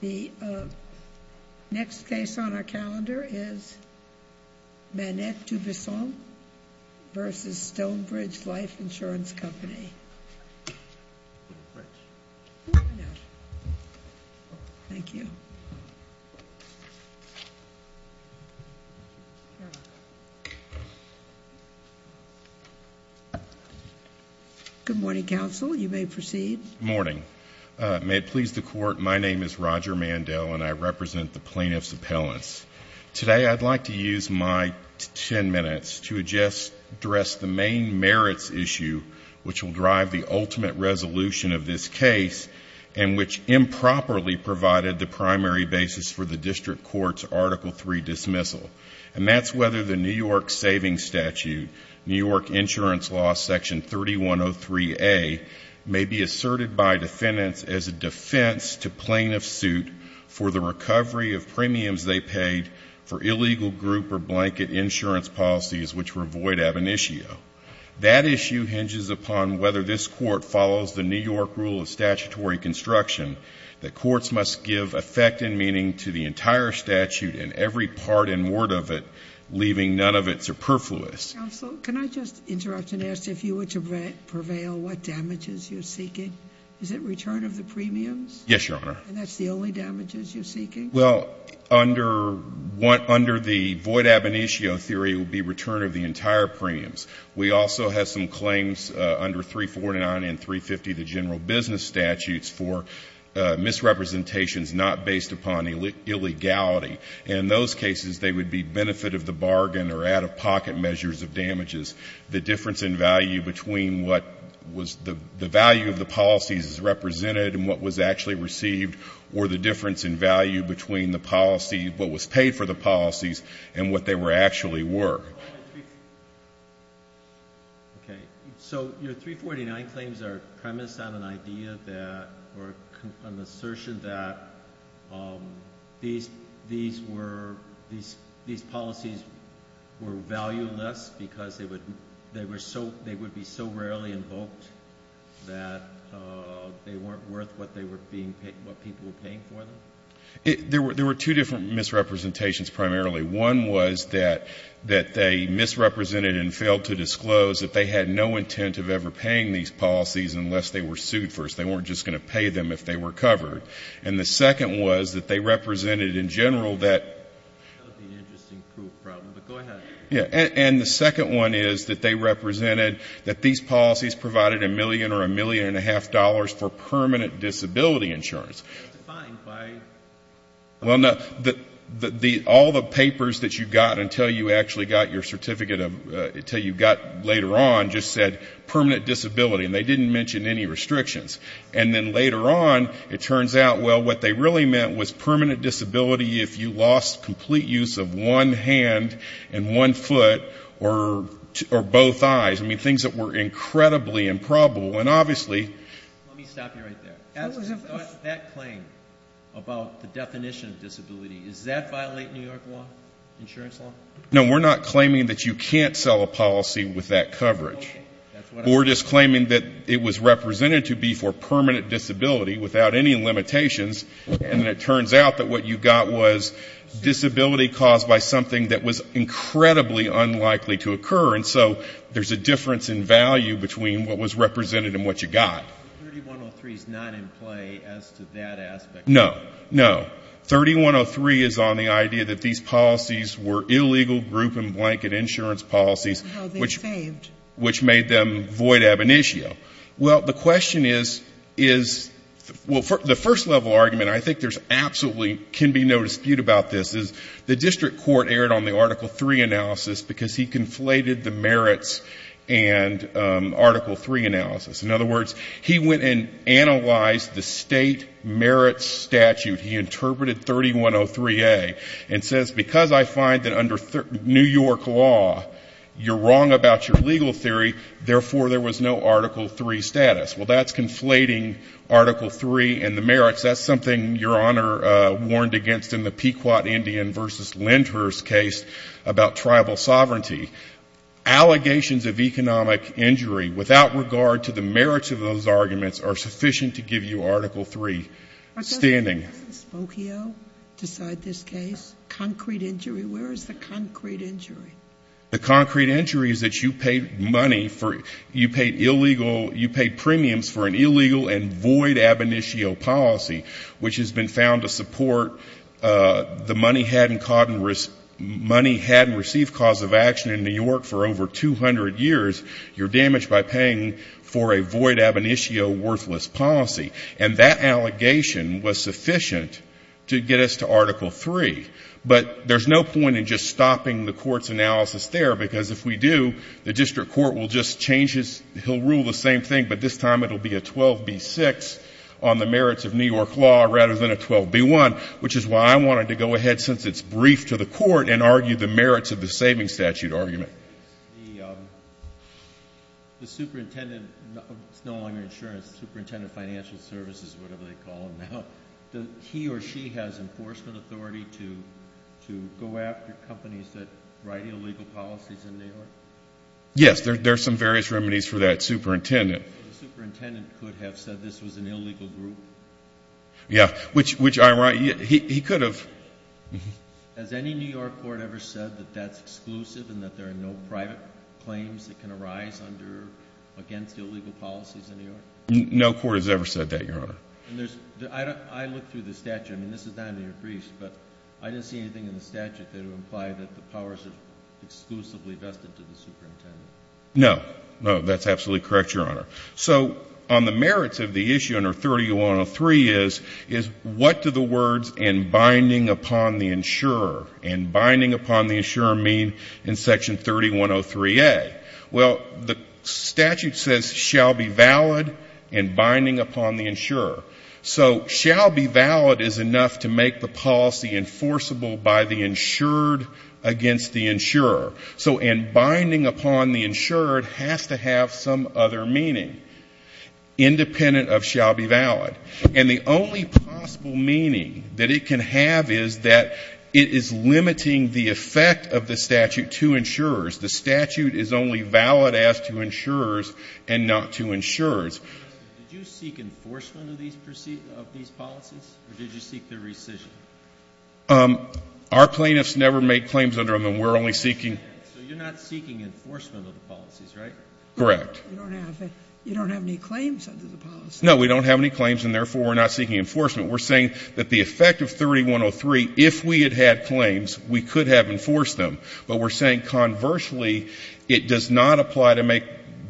The next case on our calendar is Manette DuBesson v. Stonebridge Life Insurance Company. Thank you. Good morning, counsel. You may proceed. Good morning. May it please the Court, my name is Roger Mandell and I represent the plaintiffs' appellants. Today I'd like to use my 10 minutes to address the main merits issue which will drive the ultimate resolution of this case and which improperly provided the primary basis for the district court's Article III dismissal. And that's whether the New York Savings Statute, New York Insurance Law Section 3103A, may be asserted by defendants as a defense to plaintiff's suit for the recovery of premiums they paid for illegal group or blanket insurance policies which were void ab initio. That issue hinges upon whether this Court follows the New York Rule of Statutory Construction that courts must give effect and meaning to the entire statute in every part and word of it, leaving none of it superfluous. Counsel, can I just interrupt and ask if you were to prevail, what damages you're seeking? Is it return of the premiums? Yes, Your Honor. And that's the only damages you're seeking? Well, under the void ab initio theory, it would be return of the entire premiums. We also have some claims under 349 and 350, the general business statutes, for misrepresentations not based upon illegality. And in those cases, they would be benefit of the bargain or out-of-pocket measures of damages. The difference in value between what was the value of the policies represented and what was actually received or the difference in value between the policy, what was paid for the policies, and what they were actually were. Okay. So your 349 claims are premised on an idea that or an assertion that these were these policies were valueless because they would be so rarely invoked that they weren't worth what they were being paid, what people were paying for them? There were two different misrepresentations primarily. One was that they misrepresented and failed to disclose that they had no intent of ever paying these policies unless they were sued first. They weren't just going to pay them if they were covered. And the second was that they represented in general that the second one is that they represented that these policies provided a million or a million and a half dollars for permanent disability insurance. Well, no. All the papers that you got until you actually got your certificate, until you got later on, just said permanent disability, and they didn't mention any restrictions. And then later on, it turns out, well, what they really meant was permanent disability if you lost complete use of one hand and one foot or both eyes. I mean, things that were incredibly improbable. Let me stop you right there. That claim about the definition of disability, does that violate New York law, insurance law? No, we're not claiming that you can't sell a policy with that coverage. We're just claiming that it was represented to be for permanent disability without any limitations, and it turns out that what you got was disability caused by something that was incredibly unlikely to occur. And so there's a difference in value between what was represented and what you got. 3103 is not in play as to that aspect. No, no. 3103 is on the idea that these policies were illegal group and blanket insurance policies, which made them void ab initio. Well, the question is, is, well, the first level argument, and I think there absolutely can be no dispute about this, is the district court erred on the Article 3 analysis because he conflated the merits and Article 3 analysis. In other words, he went and analyzed the state merits statute. He interpreted 3103A and says, because I find that under New York law you're wrong about your legal theory, therefore there was no Article 3 status. Well, that's conflating Article 3 and the merits. That's something Your Honor warned against in the Pequot Indian v. Lindhurst case about tribal sovereignty. Allegations of economic injury without regard to the merits of those arguments are sufficient to give you Article 3 standing. Doesn't Spokio decide this case? Concrete injury. Where is the concrete injury? The concrete injury is that you paid money for it. You paid illegal, you paid premiums for an illegal and void ab initio policy, which has been found to support the money hadn't received cause of action in New York for over 200 years. You're damaged by paying for a void ab initio worthless policy. And that allegation was sufficient to get us to Article 3. But there's no point in just stopping the court's analysis there, because if we do, the district court will just change his, he'll rule the same thing, but this time it will be a 12B6 on the merits of New York law rather than a 12B1, which is why I wanted to go ahead since it's brief to the court and argue the merits of the savings statute argument. The superintendent, it's no longer insurance, the superintendent of financial services, whatever they call him now, he or she has enforcement authority to go after companies that write illegal policies in New York? Yes, there's some various remedies for that, superintendent. The superintendent could have said this was an illegal group? Yeah, which I'm right, he could have. Has any New York court ever said that that's exclusive and that there are no private claims that can arise under, against illegal policies in New York? No court has ever said that, Your Honor. And there's, I looked through the statute, I mean, this is not in your briefs, but I didn't see anything in the statute that would imply that the powers are exclusively vested to the superintendent. No, no, that's absolutely correct, Your Honor. So on the merits of the issue under 3103 is, is what do the words and binding upon the insurer, and binding upon the insurer mean in section 3103A? Well, the statute says shall be valid and binding upon the insurer. So shall be valid is enough to make the policy enforceable by the insured against the insurer. So and binding upon the insured has to have some other meaning independent of shall be valid. And the only possible meaning that it can have is that it is limiting the effect of the statute to insurers. The statute is only valid as to insurers and not to insurers. Did you seek enforcement of these policies, or did you seek their rescission? Our plaintiffs never make claims under them. We're only seeking. So you're not seeking enforcement of the policies, right? Correct. You don't have any claims under the policy. No, we don't have any claims, and therefore we're not seeking enforcement. We're saying that the effect of 3103, if we had had claims, we could have enforced them. But we're saying conversely, it does not apply to make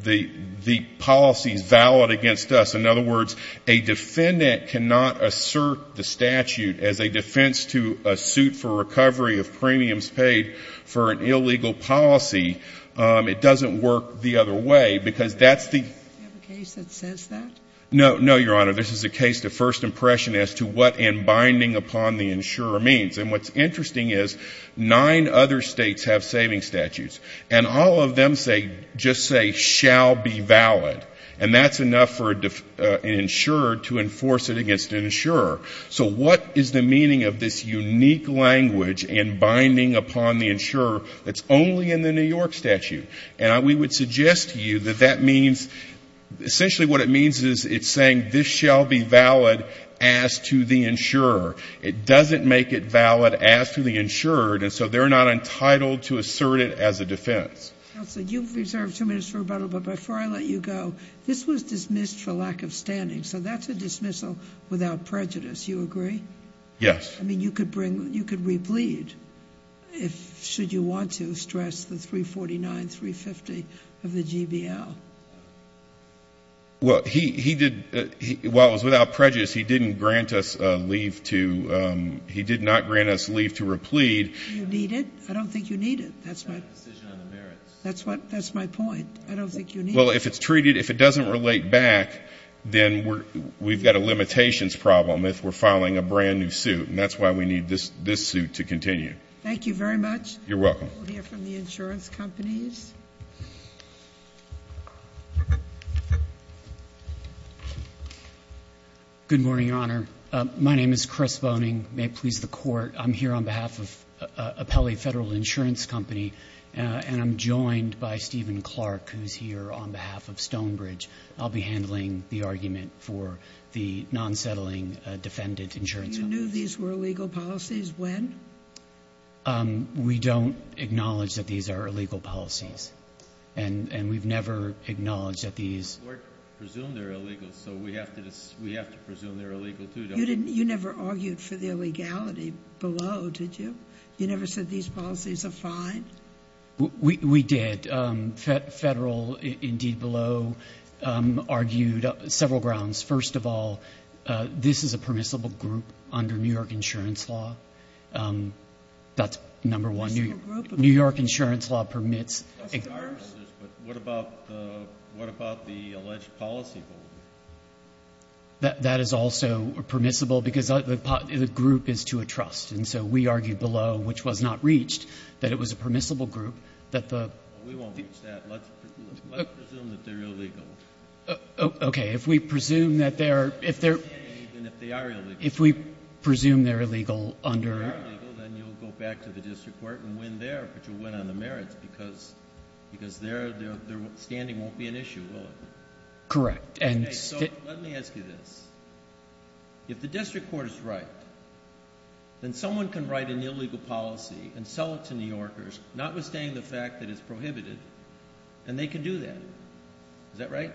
the policies valid against us. In other words, a defendant cannot assert the statute as a defense to a suit for recovery of premiums paid for an illegal policy. It doesn't work the other way, because that's the — Do you have a case that says that? No, no, Your Honor. This is a case to first impression as to what and binding upon the insurer means. And what's interesting is nine other states have savings statutes. And all of them say — just say, shall be valid. And that's enough for an insurer to enforce it against an insurer. So what is the meaning of this unique language in binding upon the insurer that's only in the New York statute? And we would suggest to you that that means — essentially what it means is it's saying this shall be valid as to the insurer. It doesn't make it valid as to the insured. And so they're not entitled to assert it as a defense. Counsel, you've reserved two minutes for rebuttal. But before I let you go, this was dismissed for lack of standing. So that's a dismissal without prejudice. You agree? Yes. I mean, you could bring — you could replead if — should you want to, stress the 349, 350 of the GBL. Well, he did — while it was without prejudice, he didn't grant us leave to — he did not grant us leave to replead. You need it? I don't think you need it. That's my — Decision on the merits. That's what — that's my point. I don't think you need it. Well, if it's treated — if it doesn't relate back, then we're — we've got a limitations problem if we're filing a brand-new suit. And that's why we need this suit to continue. Thank you very much. You're welcome. We'll hear from the insurance companies. Good morning, Your Honor. My name is Chris Voning. May it please the Court, I'm here on behalf of Apelli Federal Insurance Company, and I'm joined by Stephen Clark, who's here on behalf of Stonebridge. I'll be handling the argument for the non-settling defendant insurance company. You knew these were illegal policies when? We don't acknowledge that these are illegal policies. And we've never acknowledged that these — We presume they're illegal, so we have to presume they're illegal, too, don't we? You never argued for their legality below, did you? You never said these policies are fine? We did. Federal, indeed, below, argued several grounds. First of all, this is a permissible group under New York insurance law. That's number one. Permissible group? New York insurance law permits. What about the alleged policy holder? That is also permissible because the group is to a trust. And so we argued below, which was not reached, that it was a permissible group. We won't reach that. Let's presume that they're illegal. Okay. If we presume that they're — If they are illegal. If we presume they're illegal under — If they are illegal, then you'll go back to the district court and win there, but you'll win on the merits because their standing won't be an issue, will it? Correct. Okay. So let me ask you this. If the district court is right, then someone can write an illegal policy and sell it to New Yorkers, notwithstanding the fact that it's prohibited, and they can do that. Is that right?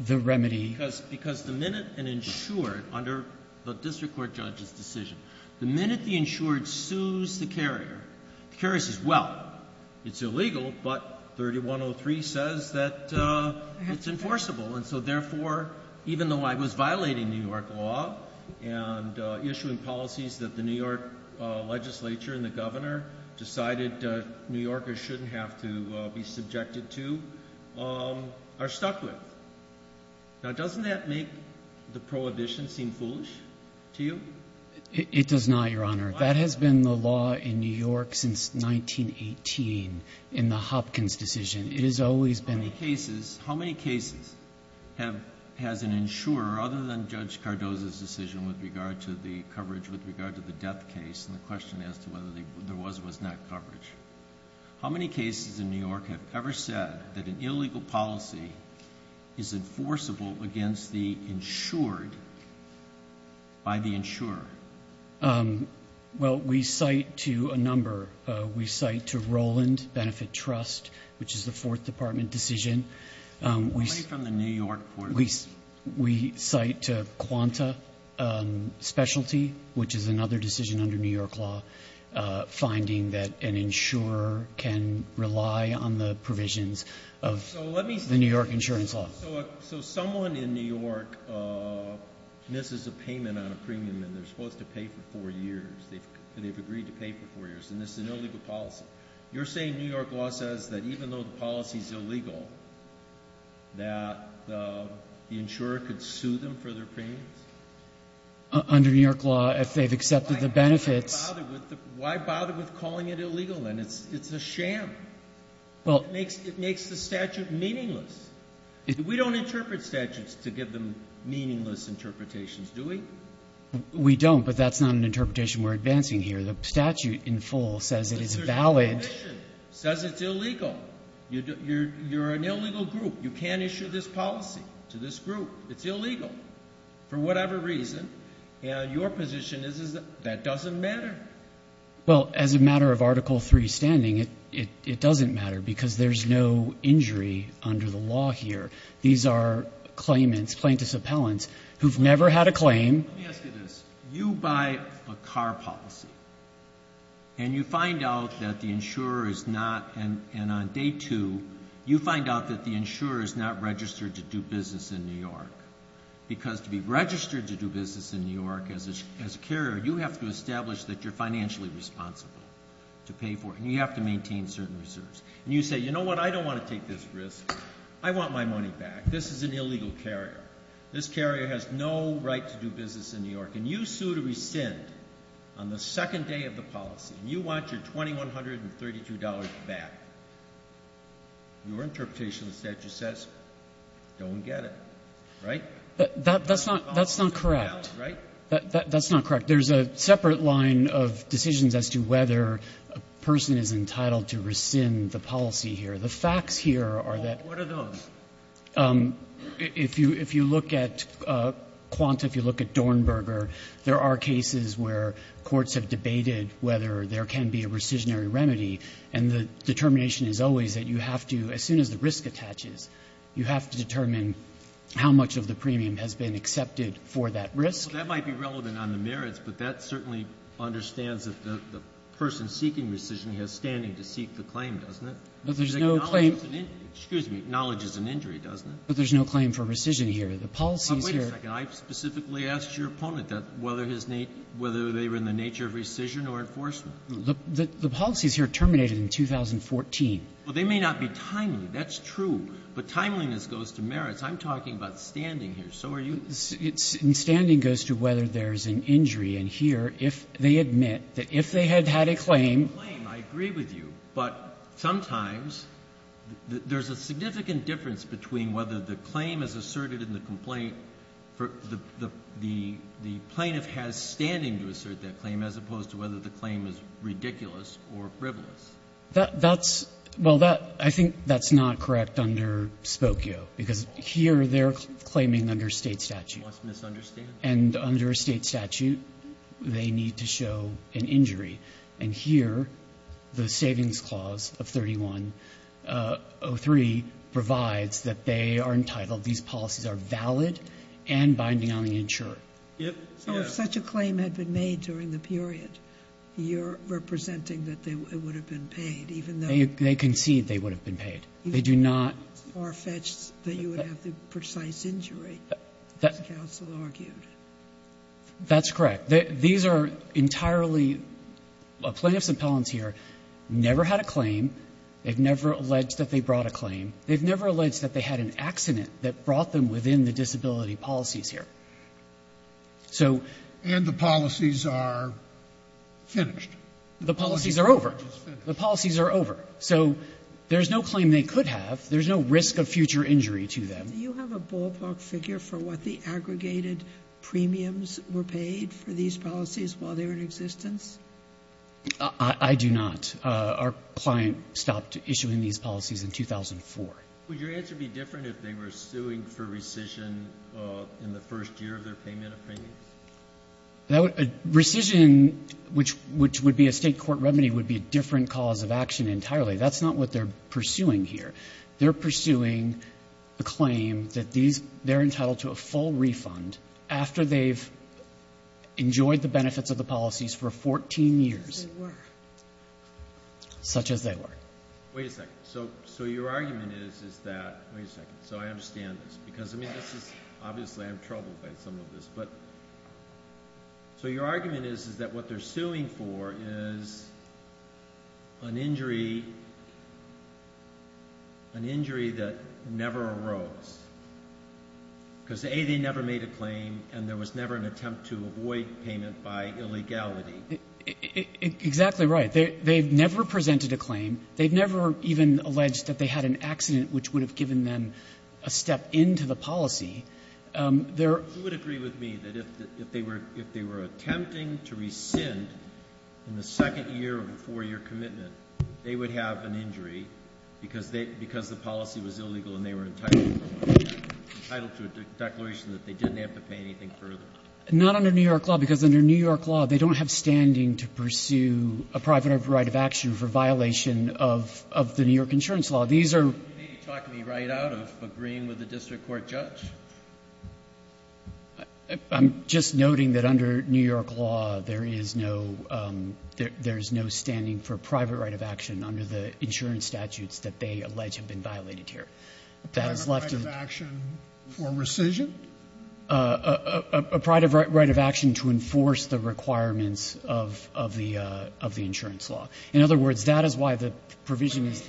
The remedy. Because the minute an insured, under the district court judge's decision, the minute the insured sues the carrier, the carrier says, well, it's illegal, but 3103 says that it's enforceable. And so, therefore, even though I was violating New York law and issuing policies that the New York legislature and the governor decided New Yorkers shouldn't have to be subjected to, are stuck with. Now, doesn't that make the prohibition seem foolish to you? It does not, Your Honor. Why not? That has been the law in New York since 1918 in the Hopkins decision. It has always been — How many cases has an insurer, other than Judge Cardozo's decision with regard to the coverage, with regard to the death case and the question as to whether there was or was not coverage, how many cases in New York have ever said that an illegal policy is enforceable against the insured by the insurer? Well, we cite to a number. We cite to Roland Benefit Trust, which is the Fourth Department decision. How many from the New York court? We cite to Quanta Specialty, which is another decision under New York law, finding that an insurer can rely on the provisions of the New York insurance law. So someone in New York misses a payment on a premium and they're supposed to pay for four years. They've agreed to pay for four years, and this is an illegal policy. You're saying New York law says that even though the policy is illegal, that the insurer could sue them for their premiums? Under New York law, if they've accepted the benefits. Why bother with calling it illegal then? It's a sham. It makes the statute meaningless. We don't interpret statutes to give them meaningless interpretations, do we? We don't, but that's not an interpretation we're advancing here. The statute in full says it is valid. It says it's illegal. You're an illegal group. You can't issue this policy to this group. It's illegal for whatever reason, and your position is that that doesn't matter. Well, as a matter of Article III standing, it doesn't matter because there's no injury under the law here. These are claimants, plaintiffs' appellants, who've never had a claim. Let me ask you this. You buy a car policy, and you find out that the insurer is not, and on day two, you find out that the insurer is not registered to do business in New York because to be registered to do business in New York as a carrier, you have to establish that you're financially responsible to pay for it, and you have to maintain certain reserves, and you say, you know what? I don't want to take this risk. I want my money back. This is an illegal carrier. This carrier has no right to do business in New York, and you sue to rescind on the second day of the policy, and you want your $2,132 back. Your interpretation of the statute says, don't get it. Right? That's not correct. That's not correct. There's a separate line of decisions as to whether a person is entitled to rescind the policy here. The facts here are that. What are those? If you look at Quanta, if you look at Dornberger, there are cases where courts have debated whether there can be a rescissionary remedy, and the determination is always that you have to, as soon as the risk attaches, you have to determine how much of the premium has been accepted for that risk. Breyer. That might be relevant on the merits, but that certainly understands that the person seeking rescission has standing to seek the claim, doesn't it? But there's no claim. Excuse me. Acknowledge is an injury, doesn't it? But there's no claim for rescission here. The policy is here. But wait a second. I specifically asked your opponent whether his need, whether they were in the nature of rescission or enforcement. The policy is here terminated in 2014. Well, they may not be timely. That's true. But timeliness goes to merits. I'm talking about standing here. So are you. Standing goes to whether there's an injury. And here, if they admit that if they had had a claim. I agree with you. But sometimes there's a significant difference between whether the claim is asserted in the complaint for the plaintiff has standing to assert that claim as opposed to whether the claim is ridiculous or frivolous. That's, well, that, I think that's not correct under Spokio, because here they're claiming under State statute. And under a State statute, they need to show an injury. And here, the Savings Clause of 3103 provides that they are entitled, these policies are valid and binding on the insurer. Yep. So if such a claim had been made during the period, you're representing that they would have been paid, even though. They concede they would have been paid. They do not. Or fetched that you would have the precise injury, as counsel argued. That's correct. These are entirely plaintiffs' appellants here, never had a claim, they've never alleged that they brought a claim, they've never alleged that they had an accident that brought them within the disability policies here. So. And the policies are finished. The policies are over. The policies are over. So there's no claim they could have. There's no risk of future injury to them. Do you have a ballpark figure for what the aggregated premiums were paid for these policies while they were in existence? I do not. Our client stopped issuing these policies in 2004. Would your answer be different if they were suing for rescission in the first year of their payment of premiums? That would be rescission, which would be a State court remedy, would be a different cause of action entirely. That's not what they're pursuing here. They're pursuing a claim that these, they're entitled to a full refund after they've enjoyed the benefits of the policies for 14 years. As they were. Such as they were. Wait a second. So your argument is, is that, wait a second, so I understand this. Because, I mean, this is, obviously I'm troubled by some of this. But, so your argument is, is that what they're suing for is an injury, an injury that never arose. Because, A, they never made a claim and there was never an attempt to avoid payment by illegality. Exactly right. They've never presented a claim. They've never even alleged that they had an accident which would have given them a step into the policy. Who would agree with me that if they were attempting to rescind in the second year of a four-year commitment, they would have an injury because the policy was illegal and they were entitled to a declaration that they didn't have to pay anything further? Not under New York law, because under New York law, they don't have standing to pursue a private or private right of action for violation of the New York insurance These are. Do you need to talk me right out of agreeing with the district court judge? I'm just noting that under New York law, there is no, there's no standing for private right of action under the insurance statutes that they allege have been violated here. Private right of action for rescission? A private right of action to enforce the requirements of the insurance law. In other words, that is why the provision is.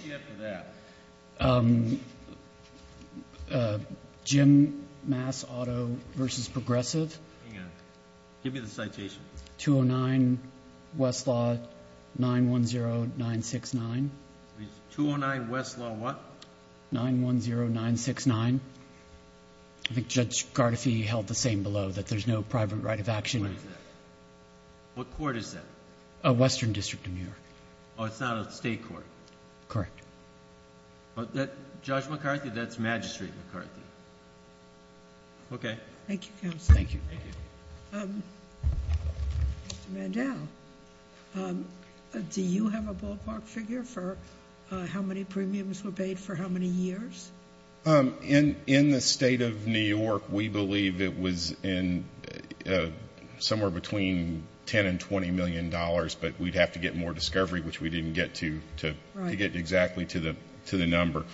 Jim Mass Auto vs. Progressive. Give me the citation. 209 Westlaw 910969. 209 Westlaw what? 910969. I think Judge Gardefee held the same below, that there's no private right of action. What court is that? Western District of New York. Oh, it's not a state court. Correct. Judge McCarthy, that's Magistrate McCarthy. Okay. Thank you, Counselor. Thank you. Thank you. Mr. Mandel, do you have a ballpark figure for how many premiums were paid for how many years? In the state of New York, we believe it was in somewhere between 10 and 20 million dollars, but we'd have to get more discovery, which we didn't get to get exactly to the number.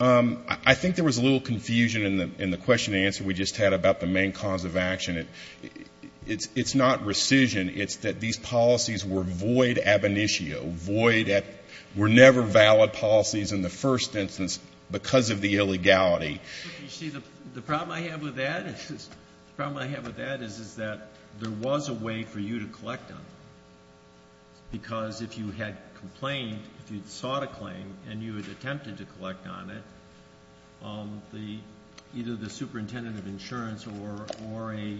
I think there was a little confusion in the question and answer we just had about the main cause of action. It's not rescission. It's that these policies were void ab initio, void at we're never valid policies in the first instance because of the illegality. You see, the problem I have with that is that there was a way for you to collect them. Because if you had complained, if you'd sought a claim and you had attempted to collect on it, either the superintendent of insurance or a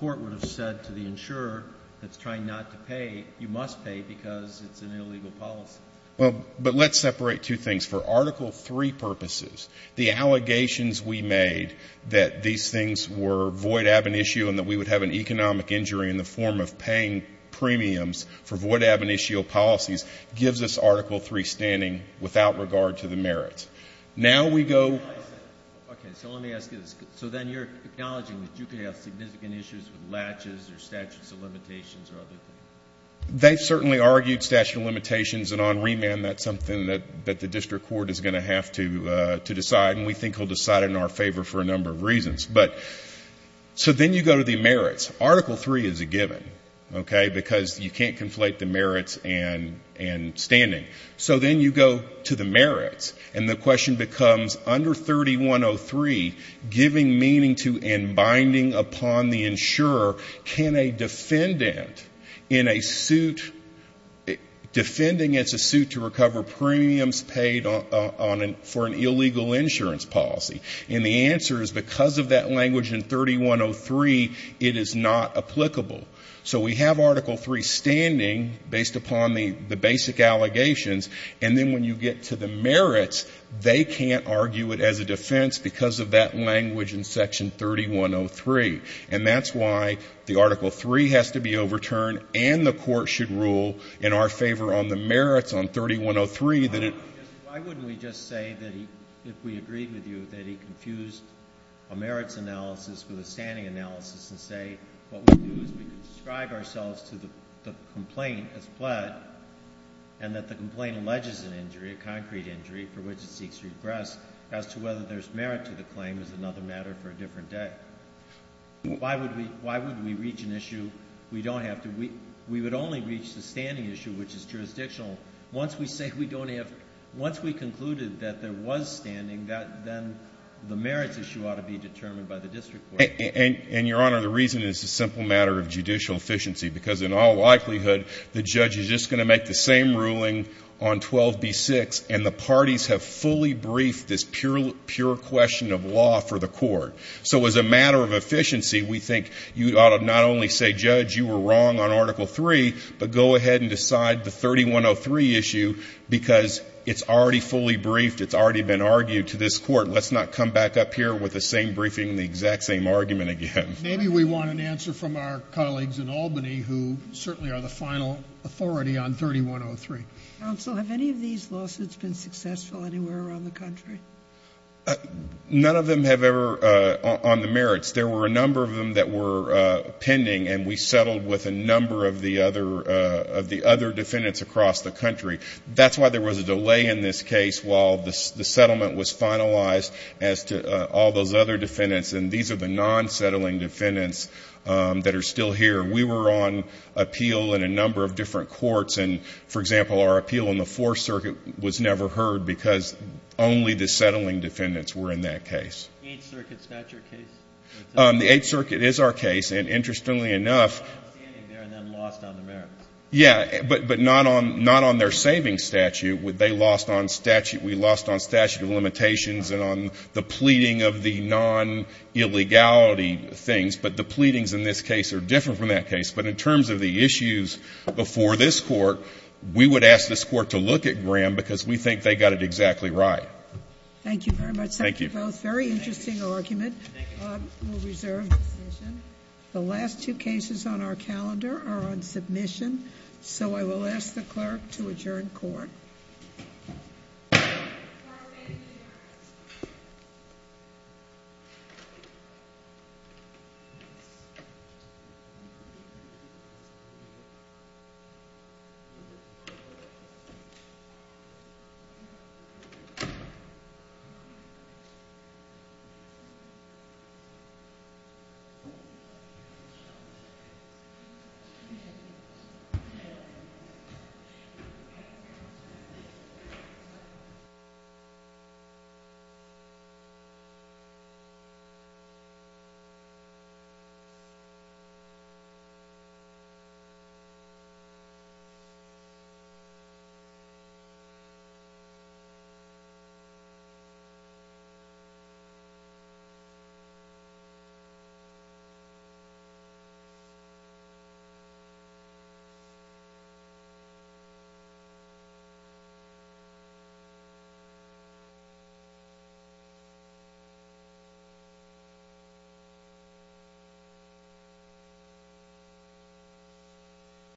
court would have said to the insurer that's trying not to pay, you must pay because it's an illegal policy. Well, but let's separate two things. For Article III purposes, the allegations we made that these things were void ab initio and that we would have an economic injury in the form of paying premiums for void ab initio policies gives us Article III standing without regard to the merits. Now we go. Okay. So let me ask you this. So then you're acknowledging that you could have significant issues with latches or statutes of limitations or other things? They've certainly argued statute of limitations and on remand that's something that the district court is going to have to decide and we think will decide in our favor for a number of reasons. So then you go to the merits. Article III is a given, okay, because you can't conflate the merits and standing. So then you go to the merits and the question becomes under 3103, giving meaning to and binding upon the insurer, can a defendant in a suit, defending it's a suit to recover premiums paid for an illegal insurance policy? And the answer is because of that language in 3103, it is not applicable. So we have Article III standing based upon the basic allegations and then when you get to the merits, they can't argue it as a defense because of that language in Section 3103. And that's why the Article III has to be overturned and the court should rule in our favor on the merits on 3103. Why wouldn't we just say that if we agreed with you that he confused a merits analysis with a standing analysis and say what we do is we describe ourselves to the complaint as pled and that the complaint alleges an injury, a concrete injury for which it seeks to regress as to whether there's merit to the claim is another matter for a different day. Why would we reach an issue we don't have to, we would only reach the standing issue which is jurisdictional. Once we say we don't have, once we concluded that there was standing, then the merits issue ought to be determined by the district court. And Your Honor, the reason is a simple matter of judicial efficiency because in all likelihood the judge is just going to make the same ruling on 12B6 and the parties have fully briefed this pure question of law for the court. So as a matter of efficiency, we think you ought to not only say, Judge, you were wrong on Article 3, but go ahead and decide the 3103 issue because it's already fully briefed. It's already been argued to this court. Let's not come back up here with the same briefing and the exact same argument again. Maybe we want an answer from our colleagues in Albany who certainly are the final authority on 3103. Counsel, have any of these lawsuits been successful anywhere around the country? None of them have ever on the merits. There were a number of them that were pending and we settled with a number of the other defendants across the country. That's why there was a delay in this case while the settlement was finalized as to all those other defendants. And these are the non-settling defendants that are still here. We were on appeal in a number of different courts. And, for example, our appeal in the Fourth Circuit was never heard because only the settling defendants were in that case. The Eighth Circuit's not your case? The Eighth Circuit is our case. And, interestingly enough — They're not standing there and then lost on the merits. Yeah, but not on their savings statute. They lost on statute. We lost on statute of limitations and on the pleading of the non-illegality things. But the pleadings in this case are different from that case. But in terms of the issues before this Court, we would ask this Court to look at Graham because we think they got it exactly right. Thank you very much. Thank you. Thank you both. Very interesting argument. Thank you. We'll reserve the decision. The last two cases on our calendar are on submission. So I will ask the Clerk to adjourn Court. Thank you. Thank you.